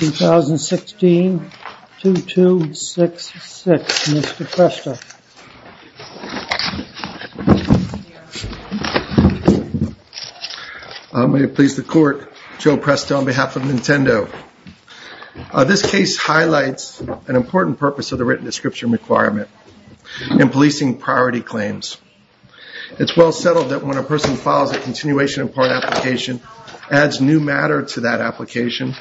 2016. 2266. Mr. Cresta. May it please the court, Joe Presto on behalf of Nintendo. This case highlights an important purpose of the written description requirement in policing priority claims. It's well settled that when a person files a continuation of part application, adds new matter to that application,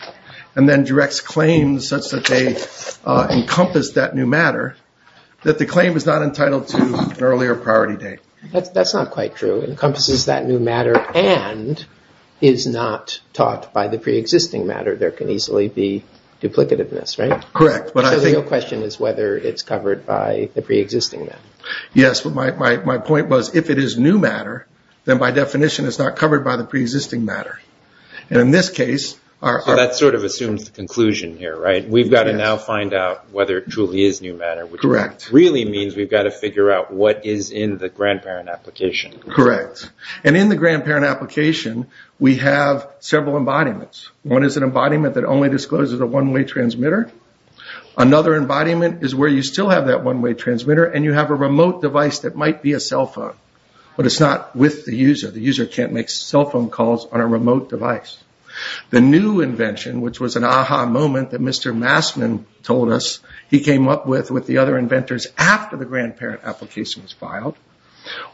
and then directs claims such that they encompass that new matter, that the claim is not entitled to an earlier priority date. That's not quite true. It encompasses that new matter and is not taught by the pre-existing matter. There can easily be duplicativeness, right? Correct. So the real question is whether it's covered by the pre-existing matter. Yes, but my point was, if it is new matter, then by definition it's not covered by the pre-existing matter. And in this case, our... We've got to now find out whether it truly is new matter, which really means we've got to figure out what is in the grandparent application. Correct. And in the grandparent application, we have several embodiments. One is an embodiment that only discloses a one-way transmitter. Another embodiment is where you still have that one-way transmitter and you have a remote device that might be a cell phone, but it's not with the user. The user can't make cell phone calls on a remote device. The new invention, which was an aha moment that Mr. Massman told us he came up with with the other inventors after the grandparent application was filed,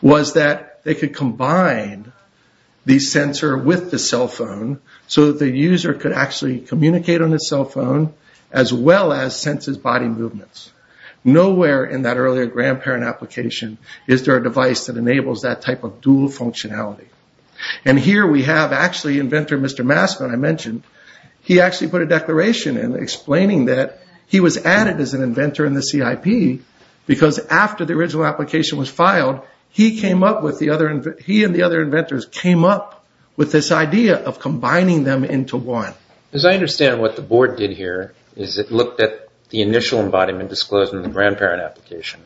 was that they could combine the sensor with the cell phone so that the user could actually communicate on the cell phone as well as sense his body movements. Nowhere in that earlier grandparent application is there a device that enables that type of Mr. Massman I mentioned. He actually put a declaration in explaining that he was added as an inventor in the CIP because after the original application was filed, he came up with the other... He and the other inventors came up with this idea of combining them into one. As I understand what the board did here is it looked at the initial embodiment disclosed in the grandparent application,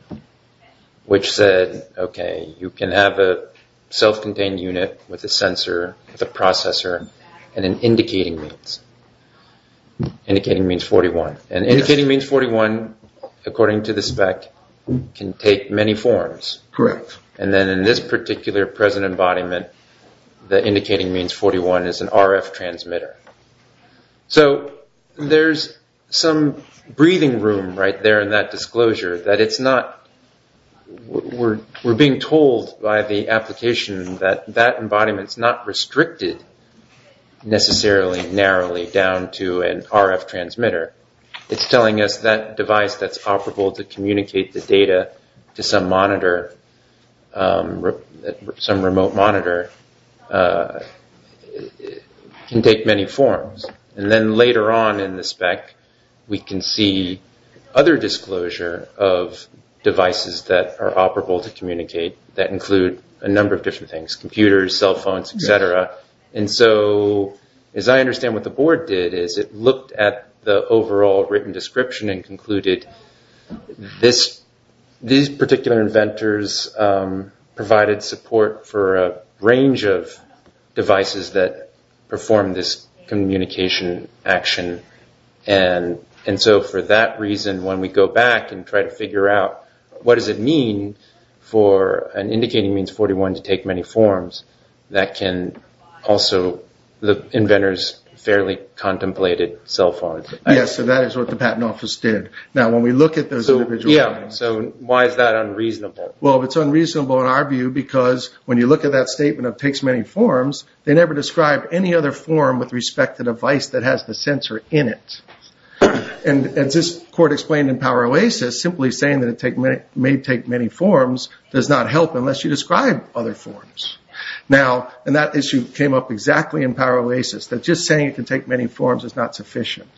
which said, okay, you can have a self-contained unit with a sensor, with a processor, and an indicating means. Indicating means 41. Indicating means 41, according to the spec, can take many forms. Correct. Then in this particular present embodiment, the indicating means 41 is an RF transmitter. There's some breathing room right there in that disclosure that it's not... We're being told by the application that that embodiment is not restricted necessarily narrowly down to an RF transmitter. It's telling us that device that's operable to communicate the data to some monitor, some remote monitor, can take many forms. Then later on in the spec, we can see other disclosure of devices that are operable to that include a number of different things, computers, cell phones, et cetera. As I understand what the board did is it looked at the overall written description and concluded these particular inventors provided support for a range of devices that perform this communication action. For that reason, when we go back and try to figure out what does it mean for an indicating means 41 to take many forms, that can also... The inventors fairly contemplated cell phones. Yes, so that is what the patent office did. Now, when we look at those individual... Yeah, so why is that unreasonable? Well, it's unreasonable in our view because when you look at that statement of takes many forms, they never described any other form with respect to device that has the sensor in it. As this court explained in Power Oasis, simply saying that it may take many forms does not help unless you describe other forms. That issue came up exactly in Power Oasis that just saying it can take many forms is not sufficient.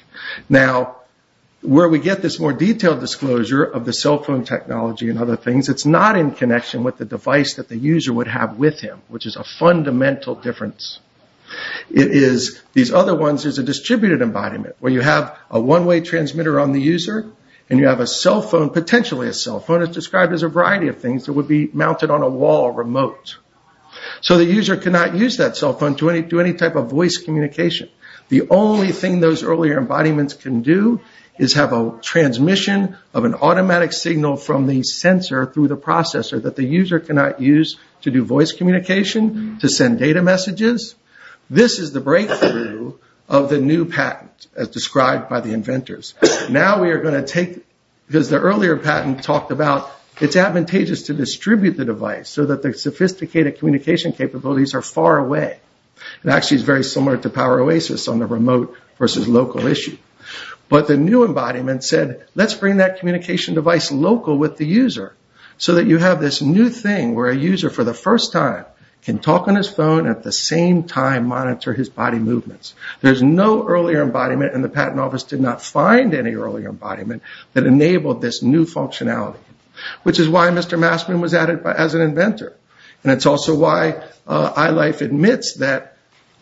Where we get this more detailed disclosure of the cell phone technology and other things, it's not in connection with the device that the user would have with him, which is a fundamental difference. These other ones, there's a distributed embodiment where you have a one-way transmitter on the user and you have a cell phone, potentially a cell phone. It's described as a variety of things that would be mounted on a wall remote. So the user cannot use that cell phone to any type of voice communication. The only thing those earlier embodiments can do is have a transmission of an automatic signal from the sensor through the processor that the user cannot use to do voice communication, to send data messages. This is the breakthrough of the new patent as described by the inventors. Now we are going to take, as the earlier patent talked about, it's advantageous to distribute the device so that the sophisticated communication capabilities are far away. It actually is very similar to Power Oasis on the remote versus local issue. But the new embodiment said, let's bring that communication device local with the user so that you have this new thing where a user for the first time can talk on his phone at the same time monitor his body movements. There's no earlier embodiment and the patent office did not find any earlier embodiment that enabled this new functionality, which is why Mr. Massman was added as an inventor. And it's also why iLife admits that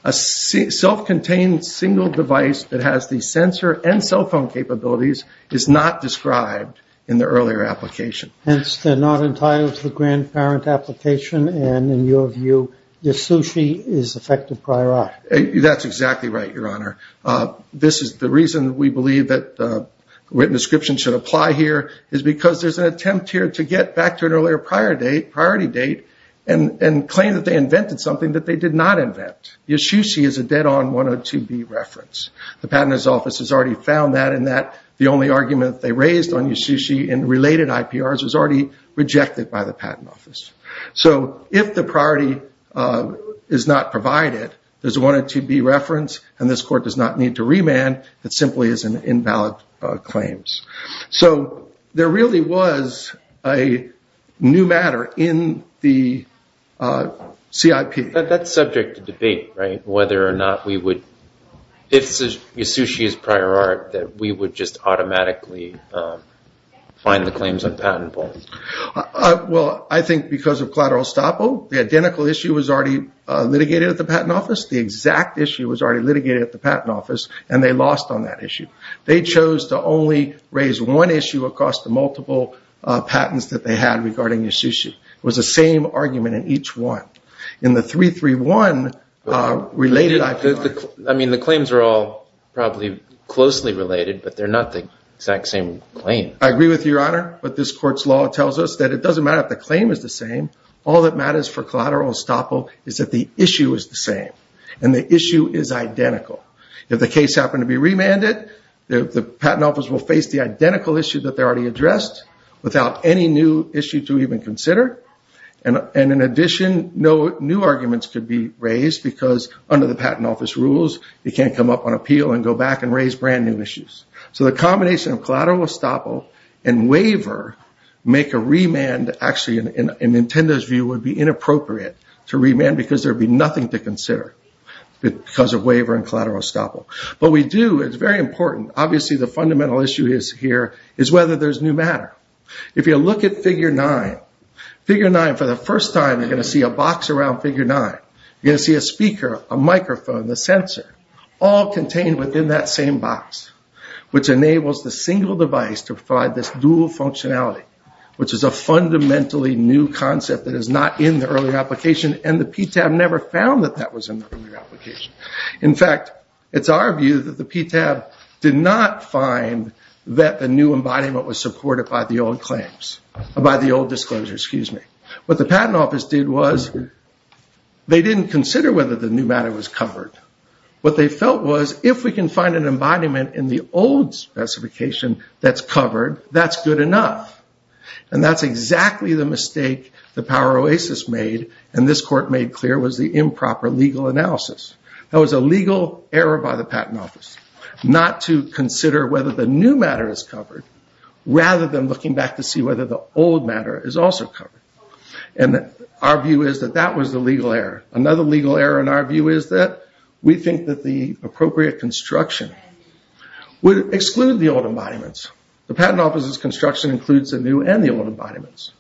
a self-contained single device that has the sensor and cell phone capabilities is not described in the earlier application. Hence, they're not entitled to the grandparent application and in your view, the sushi is effective prior art. That's exactly right, Your Honor. This is the reason we believe that written description should apply here is because there's an attempt here to get back to an earlier priority date and claim that they invented something that they did not invent. Your sushi is a dead on 102B reference. The Patent Office has already found that and the only argument they raised on your sushi and related IPRs was already rejected by the Patent Office. So if the priority is not provided, there's a 102B reference and this court does not need to remand. It simply is an invalid claims. So there really was a new matter in the CIP. That's subject to debate, right? Whether or not we would, if your sushi is prior art, that we would just automatically find the claims on patentable. Well, I think because of collateral estoppel, the identical issue was already litigated at the Patent Office. The exact issue was already litigated at the Patent Office and they lost on that issue. They chose to only raise one issue across the multiple patents that they had regarding your sushi. It was the same argument in each one. In the 331 related IPR. I mean, the claims are all probably closely related, but they're not the exact same claim. I agree with you, Your Honor, but this court's law tells us that it doesn't matter if the claim is the same. All that matters for collateral estoppel is that the issue is the same and the issue is identical. If the case happened to be remanded, the Patent Office will face the identical issue that they already addressed without any new issue to even consider. And in addition, no new arguments could be raised because under the Patent Office rules, you can't come up on appeal and go back and raise brand new issues. So the combination of collateral estoppel and waiver make a remand, actually in Nintendo's view, would be inappropriate to remand because there would be nothing to consider because of waiver and collateral estoppel. But we do, it's very important, obviously the fundamental issue here is whether there's new matter. If you look at Figure 9, Figure 9 for the first time, you're going to see a box around Figure 9. You're going to see a speaker, a microphone, the sensor, all contained within that same box, which enables the single device to provide this dual functionality, which is a fundamentally new concept that is not in the early application and the PTAB never found that that was in the early application. In fact, it's our view that the PTAB did not find that the new embodiment was supported by the old claims, by the old disclosures, excuse me. What the Patent Office did was they didn't consider whether the new matter was covered. What they felt was if we can find an embodiment in the old specification that's covered, that's good enough. And that's exactly the mistake the Power Oasis made and this court made clear was the improper legal analysis. That was a legal error by the Patent Office, not to consider whether the new matter is covered rather than looking back to see whether the old matter is also covered. And our view is that that was the legal error. Another legal error in our view is that we think that the appropriate construction would exclude the old embodiments. The Patent Office's construction includes the new and the old embodiments.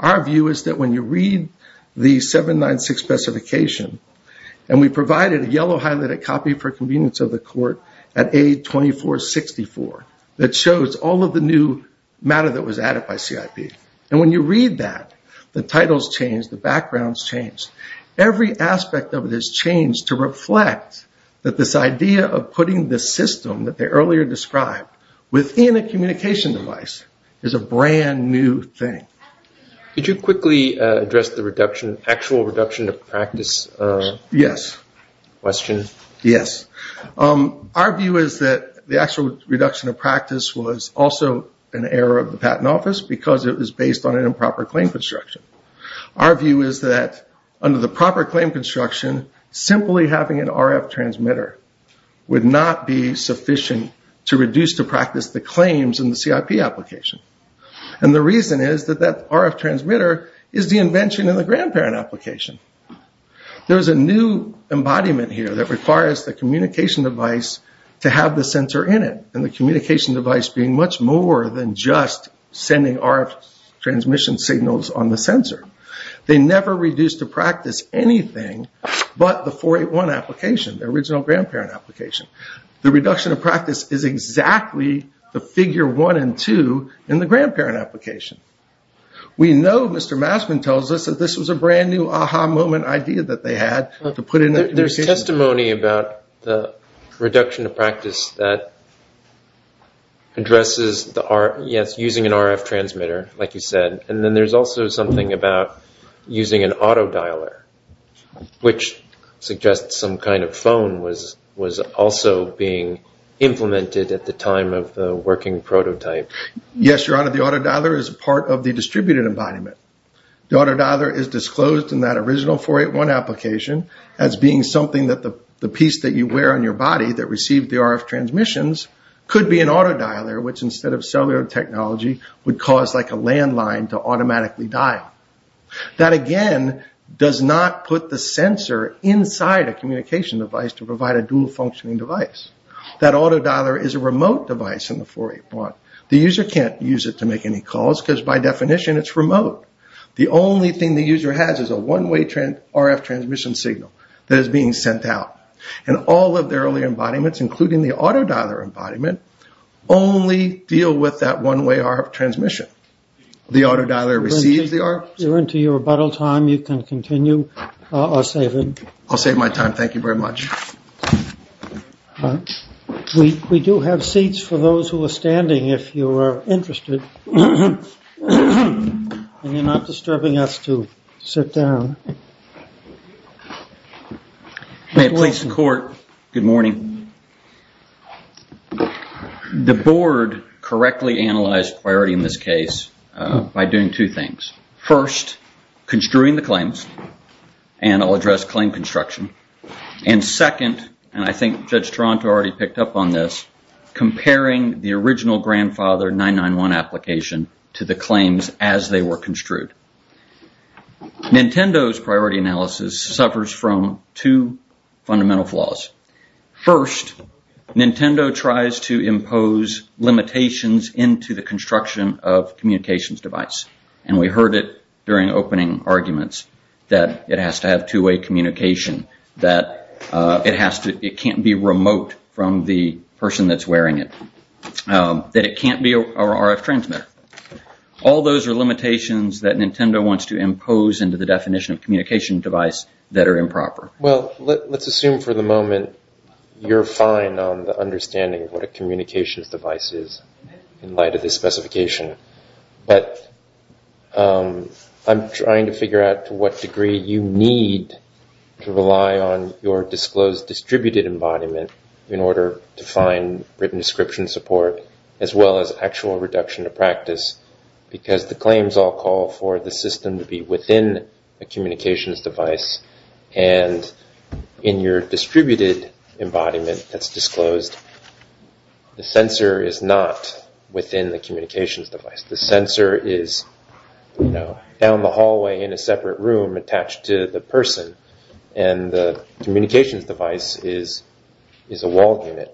Our view is that when you read the 796 specification and we provided a yellow highlighted copy for convenience of the court at A2464 that shows all of the new matter that was added by CIP. And when you read that, the titles change, the backgrounds change. Every aspect of it has changed to reflect that this idea of putting the system that they earlier described within a communication device is a brand new thing. Could you quickly address the actual reduction of practice question? Our view is that the actual reduction of practice was also an error of the Patent Office because it was based on an improper claim construction. Our view is that under the proper claim construction, simply having an RF transmitter would not be sufficient to reduce the practice claims in the CIP application. And the reason is that that RF transmitter is the invention of the grandparent application. There is a new embodiment here that requires the communication device to have the sensor in it. And the communication device being much more than just sending RF transmission signals on the sensor. They never reduced the practice anything but the 481 application, the original grandparent application. The reduction of practice is exactly the figure one and two in the grandparent application. We know, Mr. Massman tells us, that this was a brand new aha moment idea that they had to put in the... There is testimony about the reduction of practice that addresses using an RF transmitter like you said. And then there is also something about using an auto dialer, which suggests some kind of phone was also being implemented at the time of the working prototype. Yes, Your Honor. The auto dialer is part of the distributed embodiment. The auto dialer is disclosed in that original 481 application as being something that the piece that you wear on your body that received the RF transmissions could be an auto dialer, which instead of technology would cause like a landline to automatically dial. That again does not put the sensor inside a communication device to provide a dual functioning device. That auto dialer is a remote device in the 481. The user can't use it to make any calls because by definition it's remote. The only thing the user has is a one way RF transmission signal that is being sent out. And all of the early embodiments, including the auto dialer embodiment, only deal with that one way RF transmission. The auto dialer receives the RF. We're into your rebuttal time. You can continue. I'll save it. I'll save my time. Thank you very much. We do have seats for those who are standing if you are interested. And you're not disturbing us to sit down. May it please the court, good morning. Good morning. The board correctly analyzed priority in this case by doing two things. First, construing the claims, and I'll address claim construction. And second, and I think Judge Toronto already picked up on this, comparing the original grandfather 991 application to the claims as they were construed. Nintendo's priority analysis suffers from two fundamental flaws. First, Nintendo tries to impose limitations into the construction of communications device. And we heard it during opening arguments that it has to have two way communication, that it can't be remote from the person that's wearing it, that it can't be a RF transmitter. All those are limitations that Nintendo wants to impose into the definition of communication device that are improper. Well, let's assume for the moment you're fine on the understanding of what a communications device is in light of this specification. But I'm trying to figure out to what degree you need to rely on your disclosed distributed embodiment in order to find written description support, as well as actual reduction of practice, because the claims all call for the system to be within a communications device. And in your distributed embodiment that's disclosed, the sensor is not within the communications device. The sensor is down the hallway in a separate room attached to the person, and the communications device is a walled unit.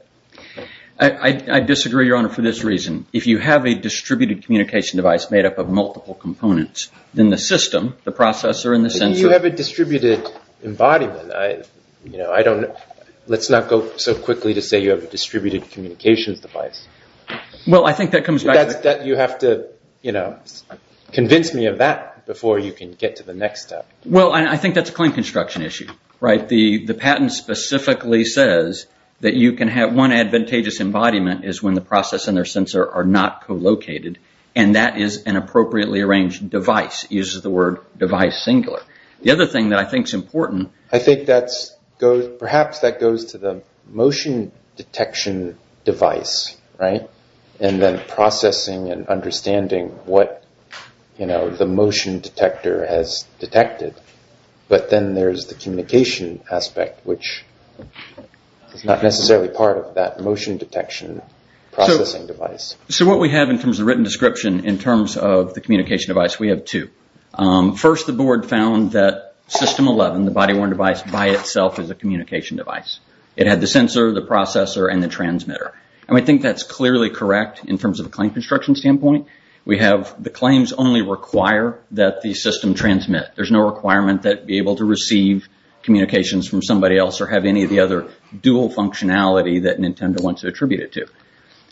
I disagree, Your Honor, for this reason. If you have a distributed communication device made up of multiple components, then the system, the processor and the sensor... You have a distributed embodiment. Let's not go so quickly to say you have a distributed communications device. Well, I think that comes back to... You have to convince me of that before you can get to the next step. Well, I think that's a claim construction issue. The patent specifically says that you can have one advantageous embodiment is when the processor and their sensor are not co-located, and that is an appropriately arranged device. It uses the word device singular. The other thing that I think is important... I think that's... Perhaps that goes to the motion detection device, right? And then processing and understanding what the motion detector has detected. But then there's the communication aspect, which is not necessarily part of that motion detection processing device. So what we have in terms of written description in terms of the communication device, we have two. First, the board found that System 11, the body-worn device, by itself is a communication device. It had the sensor, the processor and the transmitter. I think that's clearly correct in terms of a claim construction standpoint. The claims only require that the system transmit. There's no requirement that it be able to receive communications from somebody else or have any of the other dual functionality that Nintendo wants to attribute it to.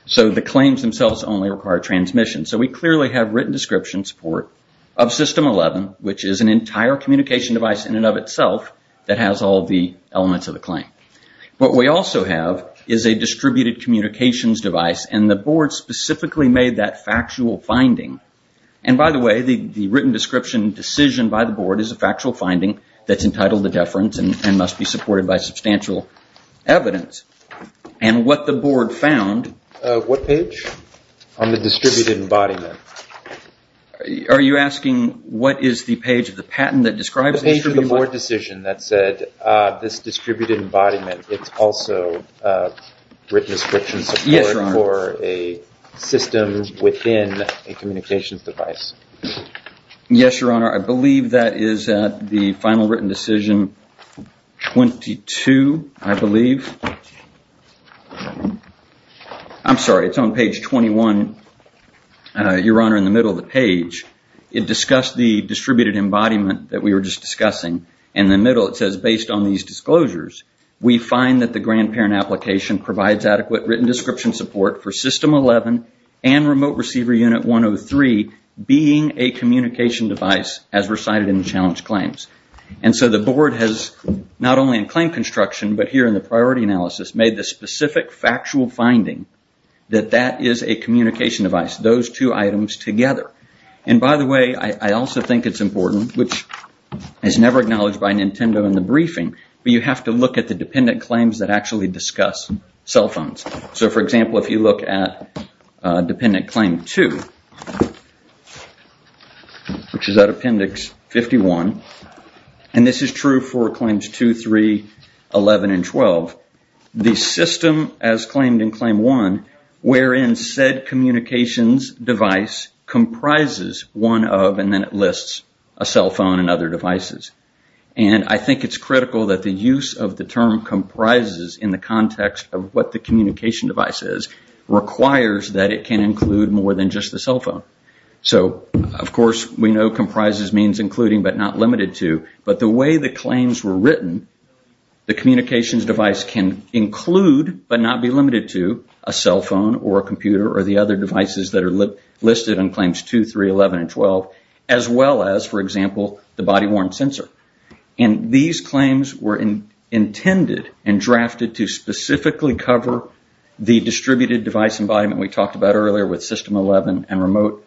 So the claims themselves only require transmission. So we clearly have written description support of System 11, which is an entire communication device in and of itself that has all the elements of the claim. What we also have is a distributed communications device, and the board specifically made that factual finding. And by the way, the written description decision by the board is a factual finding that's entitled to deference and must be supported by substantial evidence. And what the board found... What page? On the distributed embodiment. Are you asking what is the page of the patent that describes the distributed embodiment? The page of the board decision that said, this distributed embodiment, it's also written within a communications device. Yes, Your Honor. I believe that is the final written decision 22, I believe. I'm sorry, it's on page 21, Your Honor, in the middle of the page. It discussed the distributed embodiment that we were just discussing. In the middle, it says, based on these disclosures, we find that the grandparent application provides adequate written description support for System 11 and Remote Receiver Unit 103 being a communication device as recited in the challenge claims. And so the board has, not only in claim construction, but here in the priority analysis, made the specific factual finding that that is a communication device, those two items together. And by the way, I also think it's important, which is never acknowledged by Nintendo in the briefing, but you have to look at the dependent claims that actually discuss cell phones. For example, if you look at Dependent Claim 2, which is at Appendix 51, and this is true for Claims 2, 3, 11, and 12, the system, as claimed in Claim 1, wherein said communications device comprises one of, and then it lists, a cell phone and other devices. And I think it's critical that the use of the term comprises in the context of what the communication device is, requires that it can include more than just the cell phone. So of course, we know comprises means including but not limited to, but the way the claims were written, the communications device can include but not be limited to a cell phone or a computer or the other devices that are listed in Claims 2, 3, 11, and 12, as well as, for example, the body-worn sensor. And these claims were intended and drafted to specifically cover the distributed device environment we talked about earlier with System 11 and Remote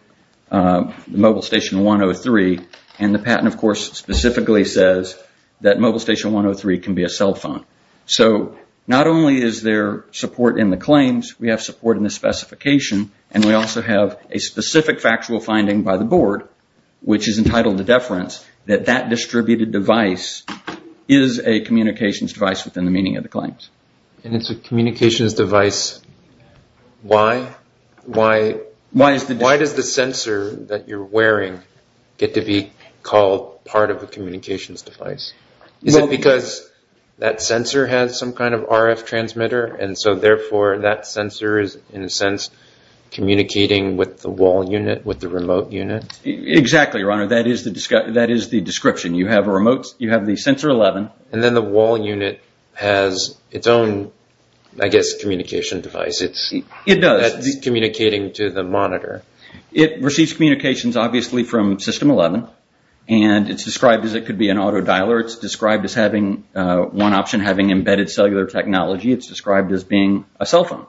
Mobile Station 103, and the patent, of course, specifically says that Mobile Station 103 can be a cell phone. So not only is there support in the claims, we have support in the specification, and we also have a specific factual finding by the Board, which is entitled to deference, that that distributed device is a communications device within the meaning of the claims. And it's a communications device. Why does the sensor that you're wearing get to be called part of a communications device? Is it because that sensor has some kind of RF transmitter, and so therefore, that sensor is, in a sense, communicating with the wall unit, with the remote unit? Exactly, Your Honor. That is the description. You have the sensor 11, and then the wall unit has its own, I guess, communication device. It's communicating to the monitor. It receives communications, obviously, from System 11, and it's described as it could be an auto dialer. It's described as having one option, having embedded cellular technology. It's described as being a cell phone.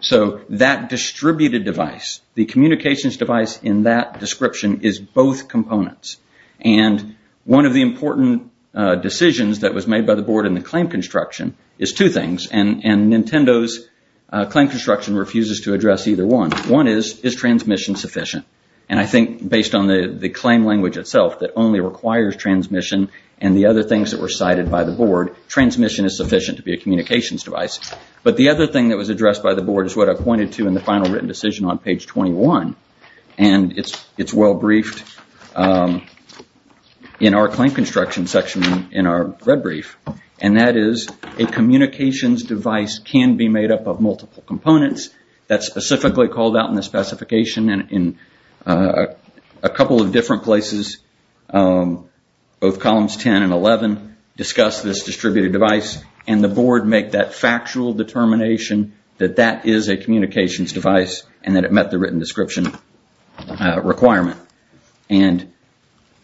So that distributed device, the communications device in that description is both components. And one of the important decisions that was made by the Board in the claim construction is two things, and Nintendo's claim construction refuses to address either one. One is, is transmission sufficient? And I think based on the claim language itself that only requires transmission and the other things that were cited by the Board, transmission is sufficient to be a communications device. But the other thing that was addressed by the Board is what I pointed to in the final written decision on page 21, and it's well briefed in our claim construction section in our red brief, and that is a communications device can be made up of multiple components. That's specifically called out in the specification in a couple of different places, both columns 10 and 11 discuss this distributed device, and the Board make that factual determination that that is a communications device and that it met the written description requirement. And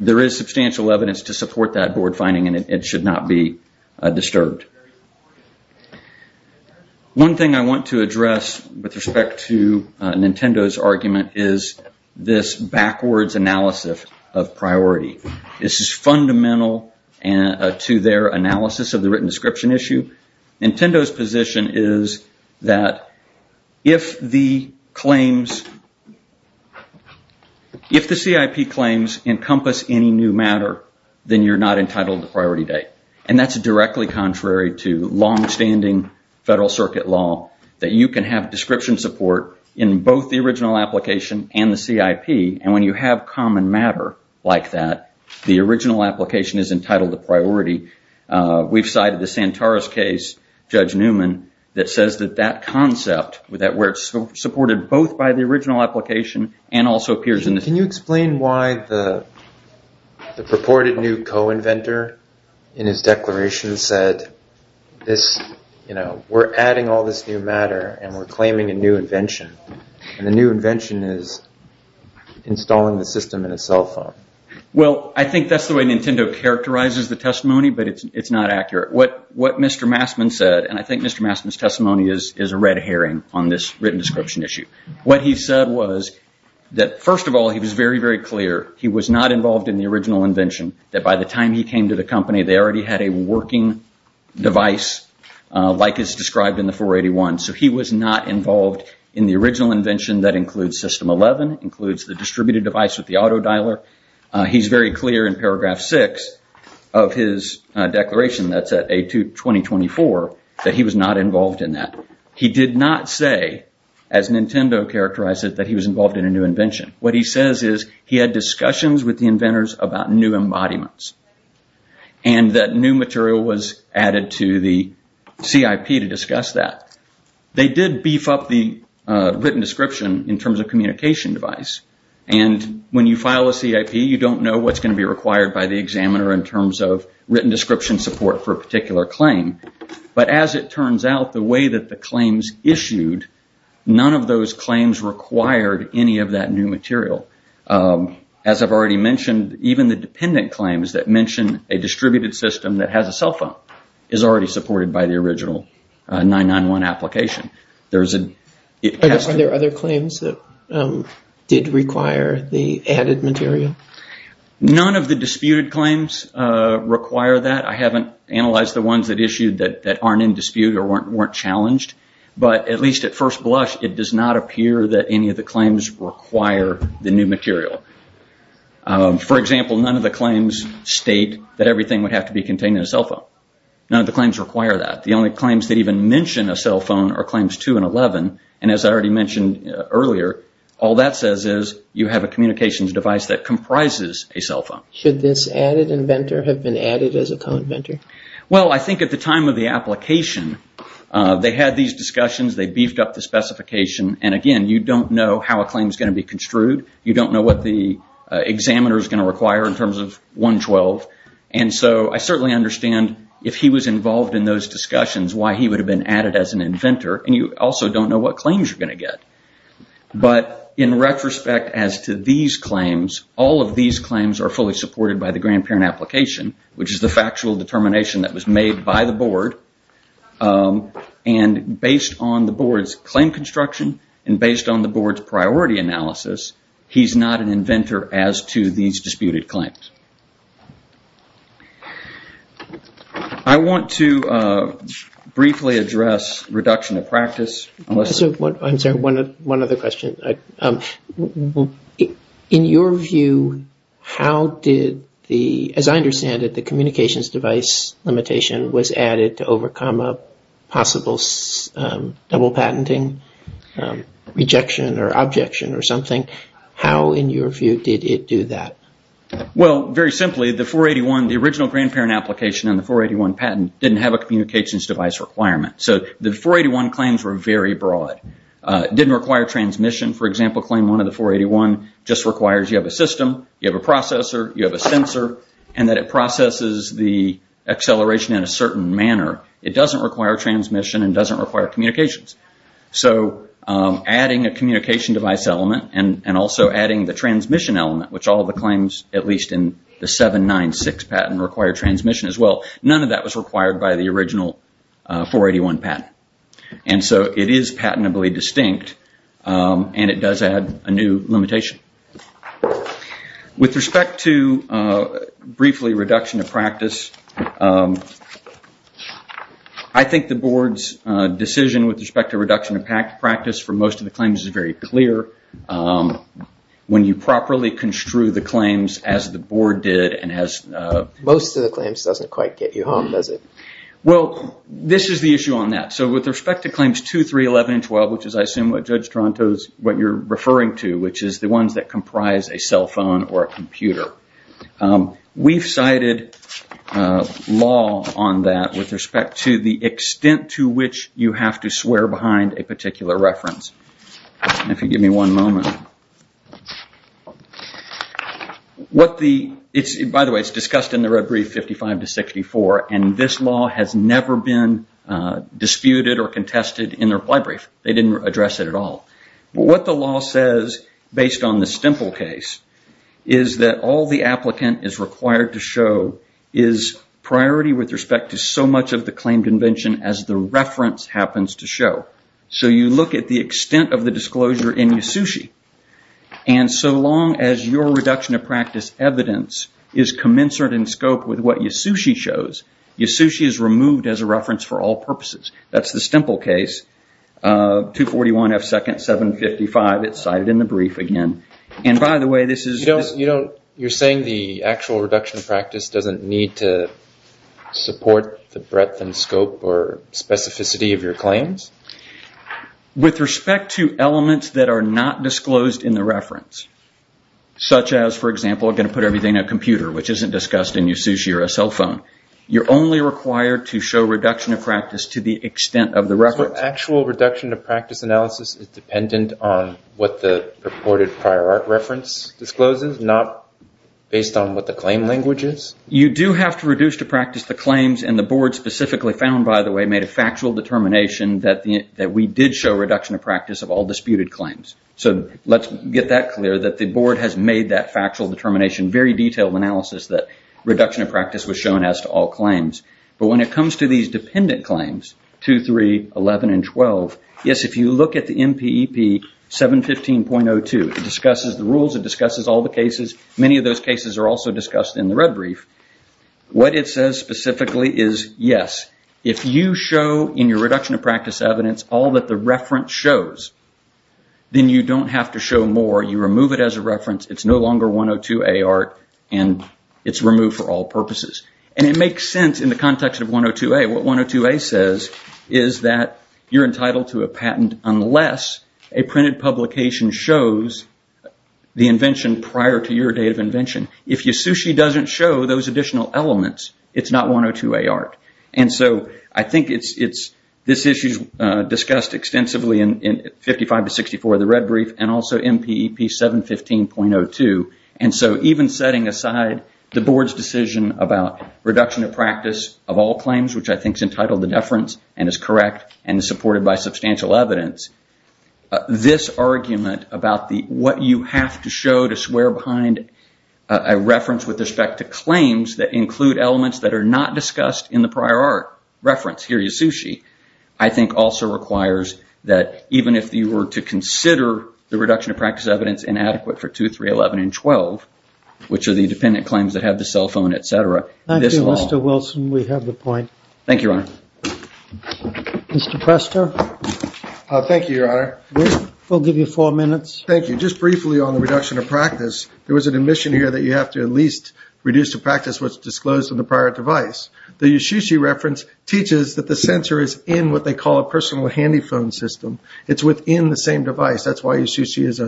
there is substantial evidence to support that Board finding, and it should not be disturbed. One thing I want to address with respect to Nintendo's argument is this backwards analysis of priority. This is fundamental to their analysis of the written description issue. Nintendo's position is that if the claims, if the claims that Nintendo is making are the CIP claims encompass any new matter, then you're not entitled to priority date. And that's directly contrary to long-standing Federal Circuit law that you can have description support in both the original application and the CIP, and when you have common matter like that, the original application is entitled to priority. We've cited the Santara's case, Judge Newman, that says that that concept, where it's supported both by the original application and also appears in the CIP. Can you explain why the purported new co-inventor in his declaration said, we're adding all this new matter and we're claiming a new invention, and the new invention is installing the system in a cell phone? Well, I think that's the way Nintendo characterizes the testimony, but it's not accurate. What Mr. Massman said, and I think Mr. Massman's testimony is a red herring on this written issue, what he said was that first of all, he was very, very clear, he was not involved in the original invention, that by the time he came to the company, they already had a working device like is described in the 481. So he was not involved in the original invention that includes system 11, includes the distributed device with the auto dialer. He's very clear in paragraph six of his declaration, that's at A2-2024, that he was not involved in that. He did not say, as Nintendo characterized it, that he was involved in a new invention. What he says is he had discussions with the inventors about new embodiments, and that new material was added to the CIP to discuss that. They did beef up the written description in terms of communication device, and when you file a CIP, you don't know what's going to be required by the examiner in terms of written claims issued, none of those claims required any of that new material. As I've already mentioned, even the dependent claims that mention a distributed system that has a cell phone is already supported by the original 991 application. Are there other claims that did require the added material? None of the disputed claims require that. I haven't analyzed the ones that issued that aren't in dispute or weren't challenged, but at least at first blush, it does not appear that any of the claims require the new material. For example, none of the claims state that everything would have to be contained in a cell phone. None of the claims require that. The only claims that even mention a cell phone are claims 2 and 11, and as I already mentioned earlier, all that says is you have a communications device that comprises a cell phone. Should this added inventor have been added as a co-inventor? Well, I think at the time of the application, they had these discussions, they beefed up the specification, and again, you don't know how a claim is going to be construed, you don't know what the examiner is going to require in terms of 112, and so I certainly understand if he was involved in those discussions, why he would have been added as an inventor, and you also don't know what claims you're going to get. But in retrospect as to these claims, all of these claims are fully supported by the grandparent application, which is the factual determination that was made by the board, and based on the board's claim construction, and based on the board's priority analysis, he's not an inventor as to these disputed claims. I want to briefly address reduction of practice. I'm sorry, one other question. In your view, how did the, as I understand it, the communications device limitation was added to overcome a possible double patenting, rejection, or objection, or something. How in your view did it do that? Well, very simply, the 481, the original grandparent application and the 481 patent didn't have a communications device requirement. So the 481 claims were very broad. It didn't require transmission. For example, claim one of the 481 just requires you have a system, you have a processor, you have a sensor, and that it processes the acceleration in a certain manner. It doesn't require transmission and doesn't require communications. So adding a communication device element and also adding the transmission element, which all the claims, at least in the 796 patent, require transmission as well, none of that was required by the original 481 patent. And so it is patentably distinct and it does add a new limitation. With respect to, briefly, reduction of practice, I think the board's decision with respect to reduction of practice for most of the claims is very clear. When you properly construe the claims as the board did and as... Well, this is the issue on that. So with respect to claims 2, 3, 11, and 12, which is, I assume, what Judge Tronto is, what you're referring to, which is the ones that comprise a cell phone or a computer. We've cited law on that with respect to the extent to which you have to swear behind a particular reference. And if you give me one moment. By the way, it's discussed in the red brief 55 to 64, and this law has never been disputed or contested in the reply brief. They didn't address it at all. What the law says, based on the Stimple case, is that all the applicant is required to show is priority with respect to so much of the claimed invention as the reference happens to show. So you look at the extent of the disclosure in Yasushi, and so long as your reduction of practice evidence is commensurate in scope with what Yasushi shows, Yasushi is removed as a reference for all purposes. That's the Stimple case, 241F second 755. It's cited in the brief again. And by the way, this is... You're saying the actual reduction of practice doesn't need to support the breadth and scope or specificity of your claims? With respect to elements that are not disclosed in the reference, such as, for example, I'm going to put everything on a computer, which isn't discussed in Yasushi or a cell phone. You're only required to show reduction of practice to the extent of the reference. Actual reduction of practice analysis is dependent on what the purported prior art reference discloses, not based on what the claim language is? You do have to reduce to practice the claims, and the board specifically found, by the way, made a factual determination that we did show reduction of practice of all disputed claims. So let's get that clear, that the board has made that factual determination, very detailed analysis that reduction of practice was shown as to all claims. But when it comes to these dependent claims, 2311 and 12, yes, if you look at the MPEP 715.02, it discusses the rules, it discusses all the cases. Many of those cases are also discussed in the red brief. What it says specifically is, yes, if you show in your reduction of practice evidence all that the reference shows, then you don't have to show more. You remove it as a reference. It's no longer 102A art, and it's removed for all purposes. And it makes sense in the context of 102A. What 102A says is that you're entitled to a patent unless a printed publication shows the invention prior to your date of invention. If your sushi doesn't show those additional elements, it's not 102A art. And so I think this issue is discussed extensively in 55-64, the red brief, and also MPEP 715.02. And so even setting aside the board's decision about reduction of practice of all claims, which I think is entitled to deference and is correct and supported by substantial evidence, this argument about what you have to show to swear behind a reference with respect to claims that include elements that are not discussed in the prior art reference, here is your sushi, I think also requires that even if you were to consider the reduction of practice evidence inadequate for 2311 and 12, which are the dependent claims that have the cell phone, et cetera, this law... Thank you, Mr. Wilson. We have the point. Thank you, Your Honor. Mr. Prester? Thank you, Your Honor. We'll give you four minutes. Thank you. Just briefly on the reduction of practice, there was an admission here that you have to at least reduce the practice what's disclosed in the prior device. The Yoshishi reference teaches that the sensor is in what they call a personal handy phone system. It's within the same device. That's why Yoshishi is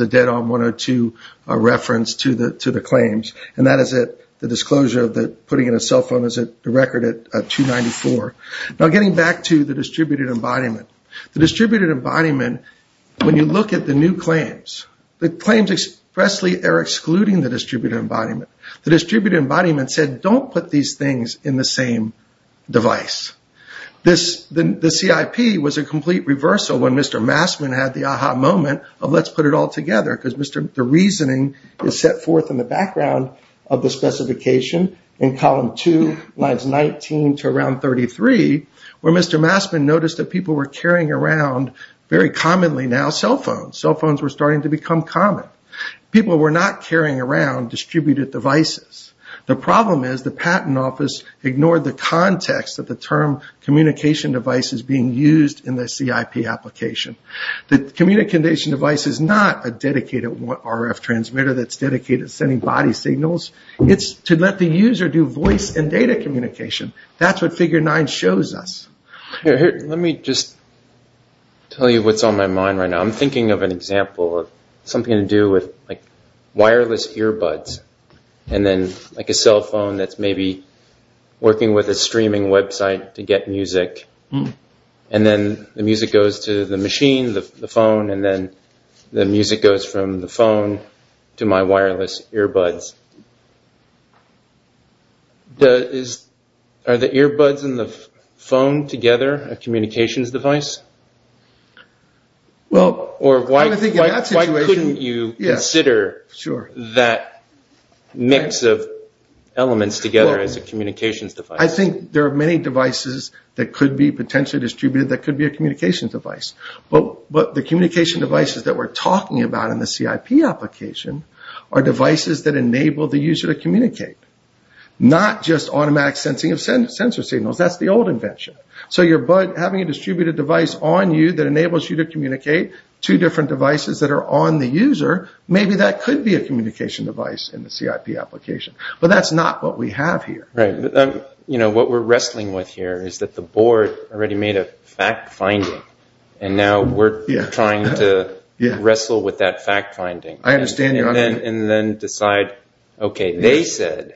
a dead-on 102 reference to the claims. And that is the disclosure that putting in a cell phone is a record at 294. Now, getting back to the distributed embodiment, the distributed embodiment, when you look at the new claims, the claims expressly are excluding the distributed embodiment. The distributed embodiment said, don't put these things in the same device. The CIP was a complete reversal when Mr. Massman had the aha moment of let's put it all together because the reasoning is set forth in the background of the specification in column two, lines 19 to around 33, where Mr. Massman noticed that people were carrying around, very commonly now, cell phones. Cell phones were starting to become common. People were not carrying around distributed devices. The problem is the Patent Office ignored the context of the term communication devices being used in the CIP application. The communication device is not a dedicated RF transmitter that's dedicated to sending body signals. It's to let the user do voice and data communication. That's what figure nine shows us. Let me just tell you what's on my mind right now. I'm thinking of an example of something to do with wireless earbuds and then like a cell phone that's maybe working with a streaming website to get music. And then the music goes to the machine, the phone, and then the music goes from the phone to my wireless earbuds. Are the earbuds and the phone together a communications device? Why couldn't you consider that mix of elements together as a communications device? I think there are many devices that could be potentially distributed that could be a communications device. But the communication devices that we're talking about in the CIP application are devices that enable the user to communicate, not just automatic sensing of sensor signals. That's the old invention. So your bud having a distributed device on you that enables you to communicate to different devices that are on the user, maybe that could be a communication device in the CIP application. But that's not what we have here. Right. You know, what we're wrestling with here is that the board already made a fact-finding and now we're trying to wrestle with that fact-finding and then decide, okay, they said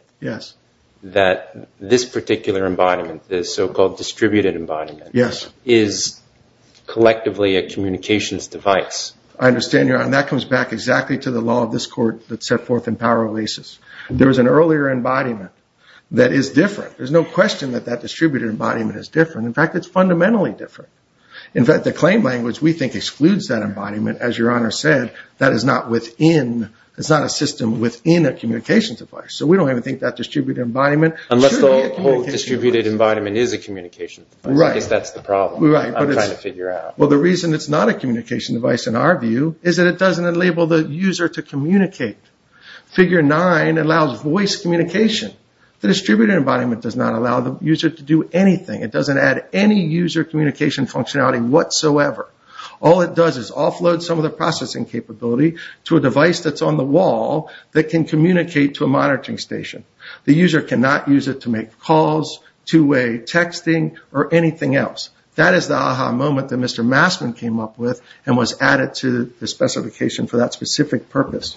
that this particular embodiment, this so-called distributed embodiment, is collectively a communications device. I understand, Your Honor. That comes back exactly to the law of this court that set forth in power of leases. There was an earlier embodiment that is different. There's no question that that distributed embodiment is different. In fact, it's fundamentally different. In fact, the claim language we think excludes that embodiment. As Your Honor said, that is not within, it's not a system within a communications device. So we don't even think that distributed embodiment should be a communications device. Unless the whole distributed embodiment is a communications device. Right. I guess that's the problem. Right. I'm trying to figure out. Well, the reason it's not a communications device in our view is that it doesn't enable the user to communicate. Figure nine allows voice communication. The distributed embodiment does not allow the user to do anything. It doesn't add any user communication functionality whatsoever. All it does is offload some of the processing capability to a device that's on the wall that can communicate to a monitoring station. The user cannot use it to make calls, two-way texting, or anything else. That is the aha moment that Mr. Massman came up with and was added to the specification for that specific purpose.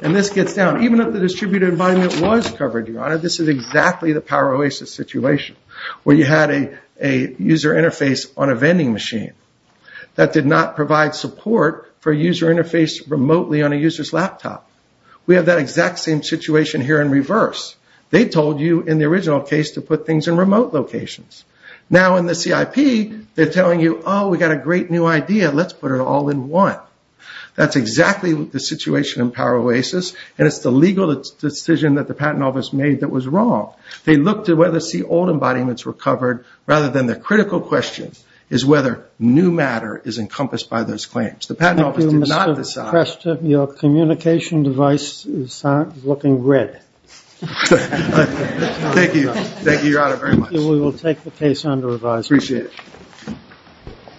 And this gets down. Even if the distributed embodiment was covered, Your Honor, this is exactly the Power Oasis situation where you had a user interface on a vending machine that did not provide support for a user interface remotely on a user's laptop. We have that exact same situation here in reverse. They told you in the original case to put things in remote locations. Now in the CIP, they're telling you, oh, we got a great new idea. Let's put it all in one. That's exactly the situation in Power Oasis, and it's the legal decision that the patent office made that was wrong. They looked at whether C-old embodiments were covered, rather than the critical question is whether new matter is encompassed by those claims. The patent office did not decide. Thank you, Mr. Preston. Your communication device is looking red. Thank you. Thank you, Your Honor, very much. Thank you. We will take the case under revision.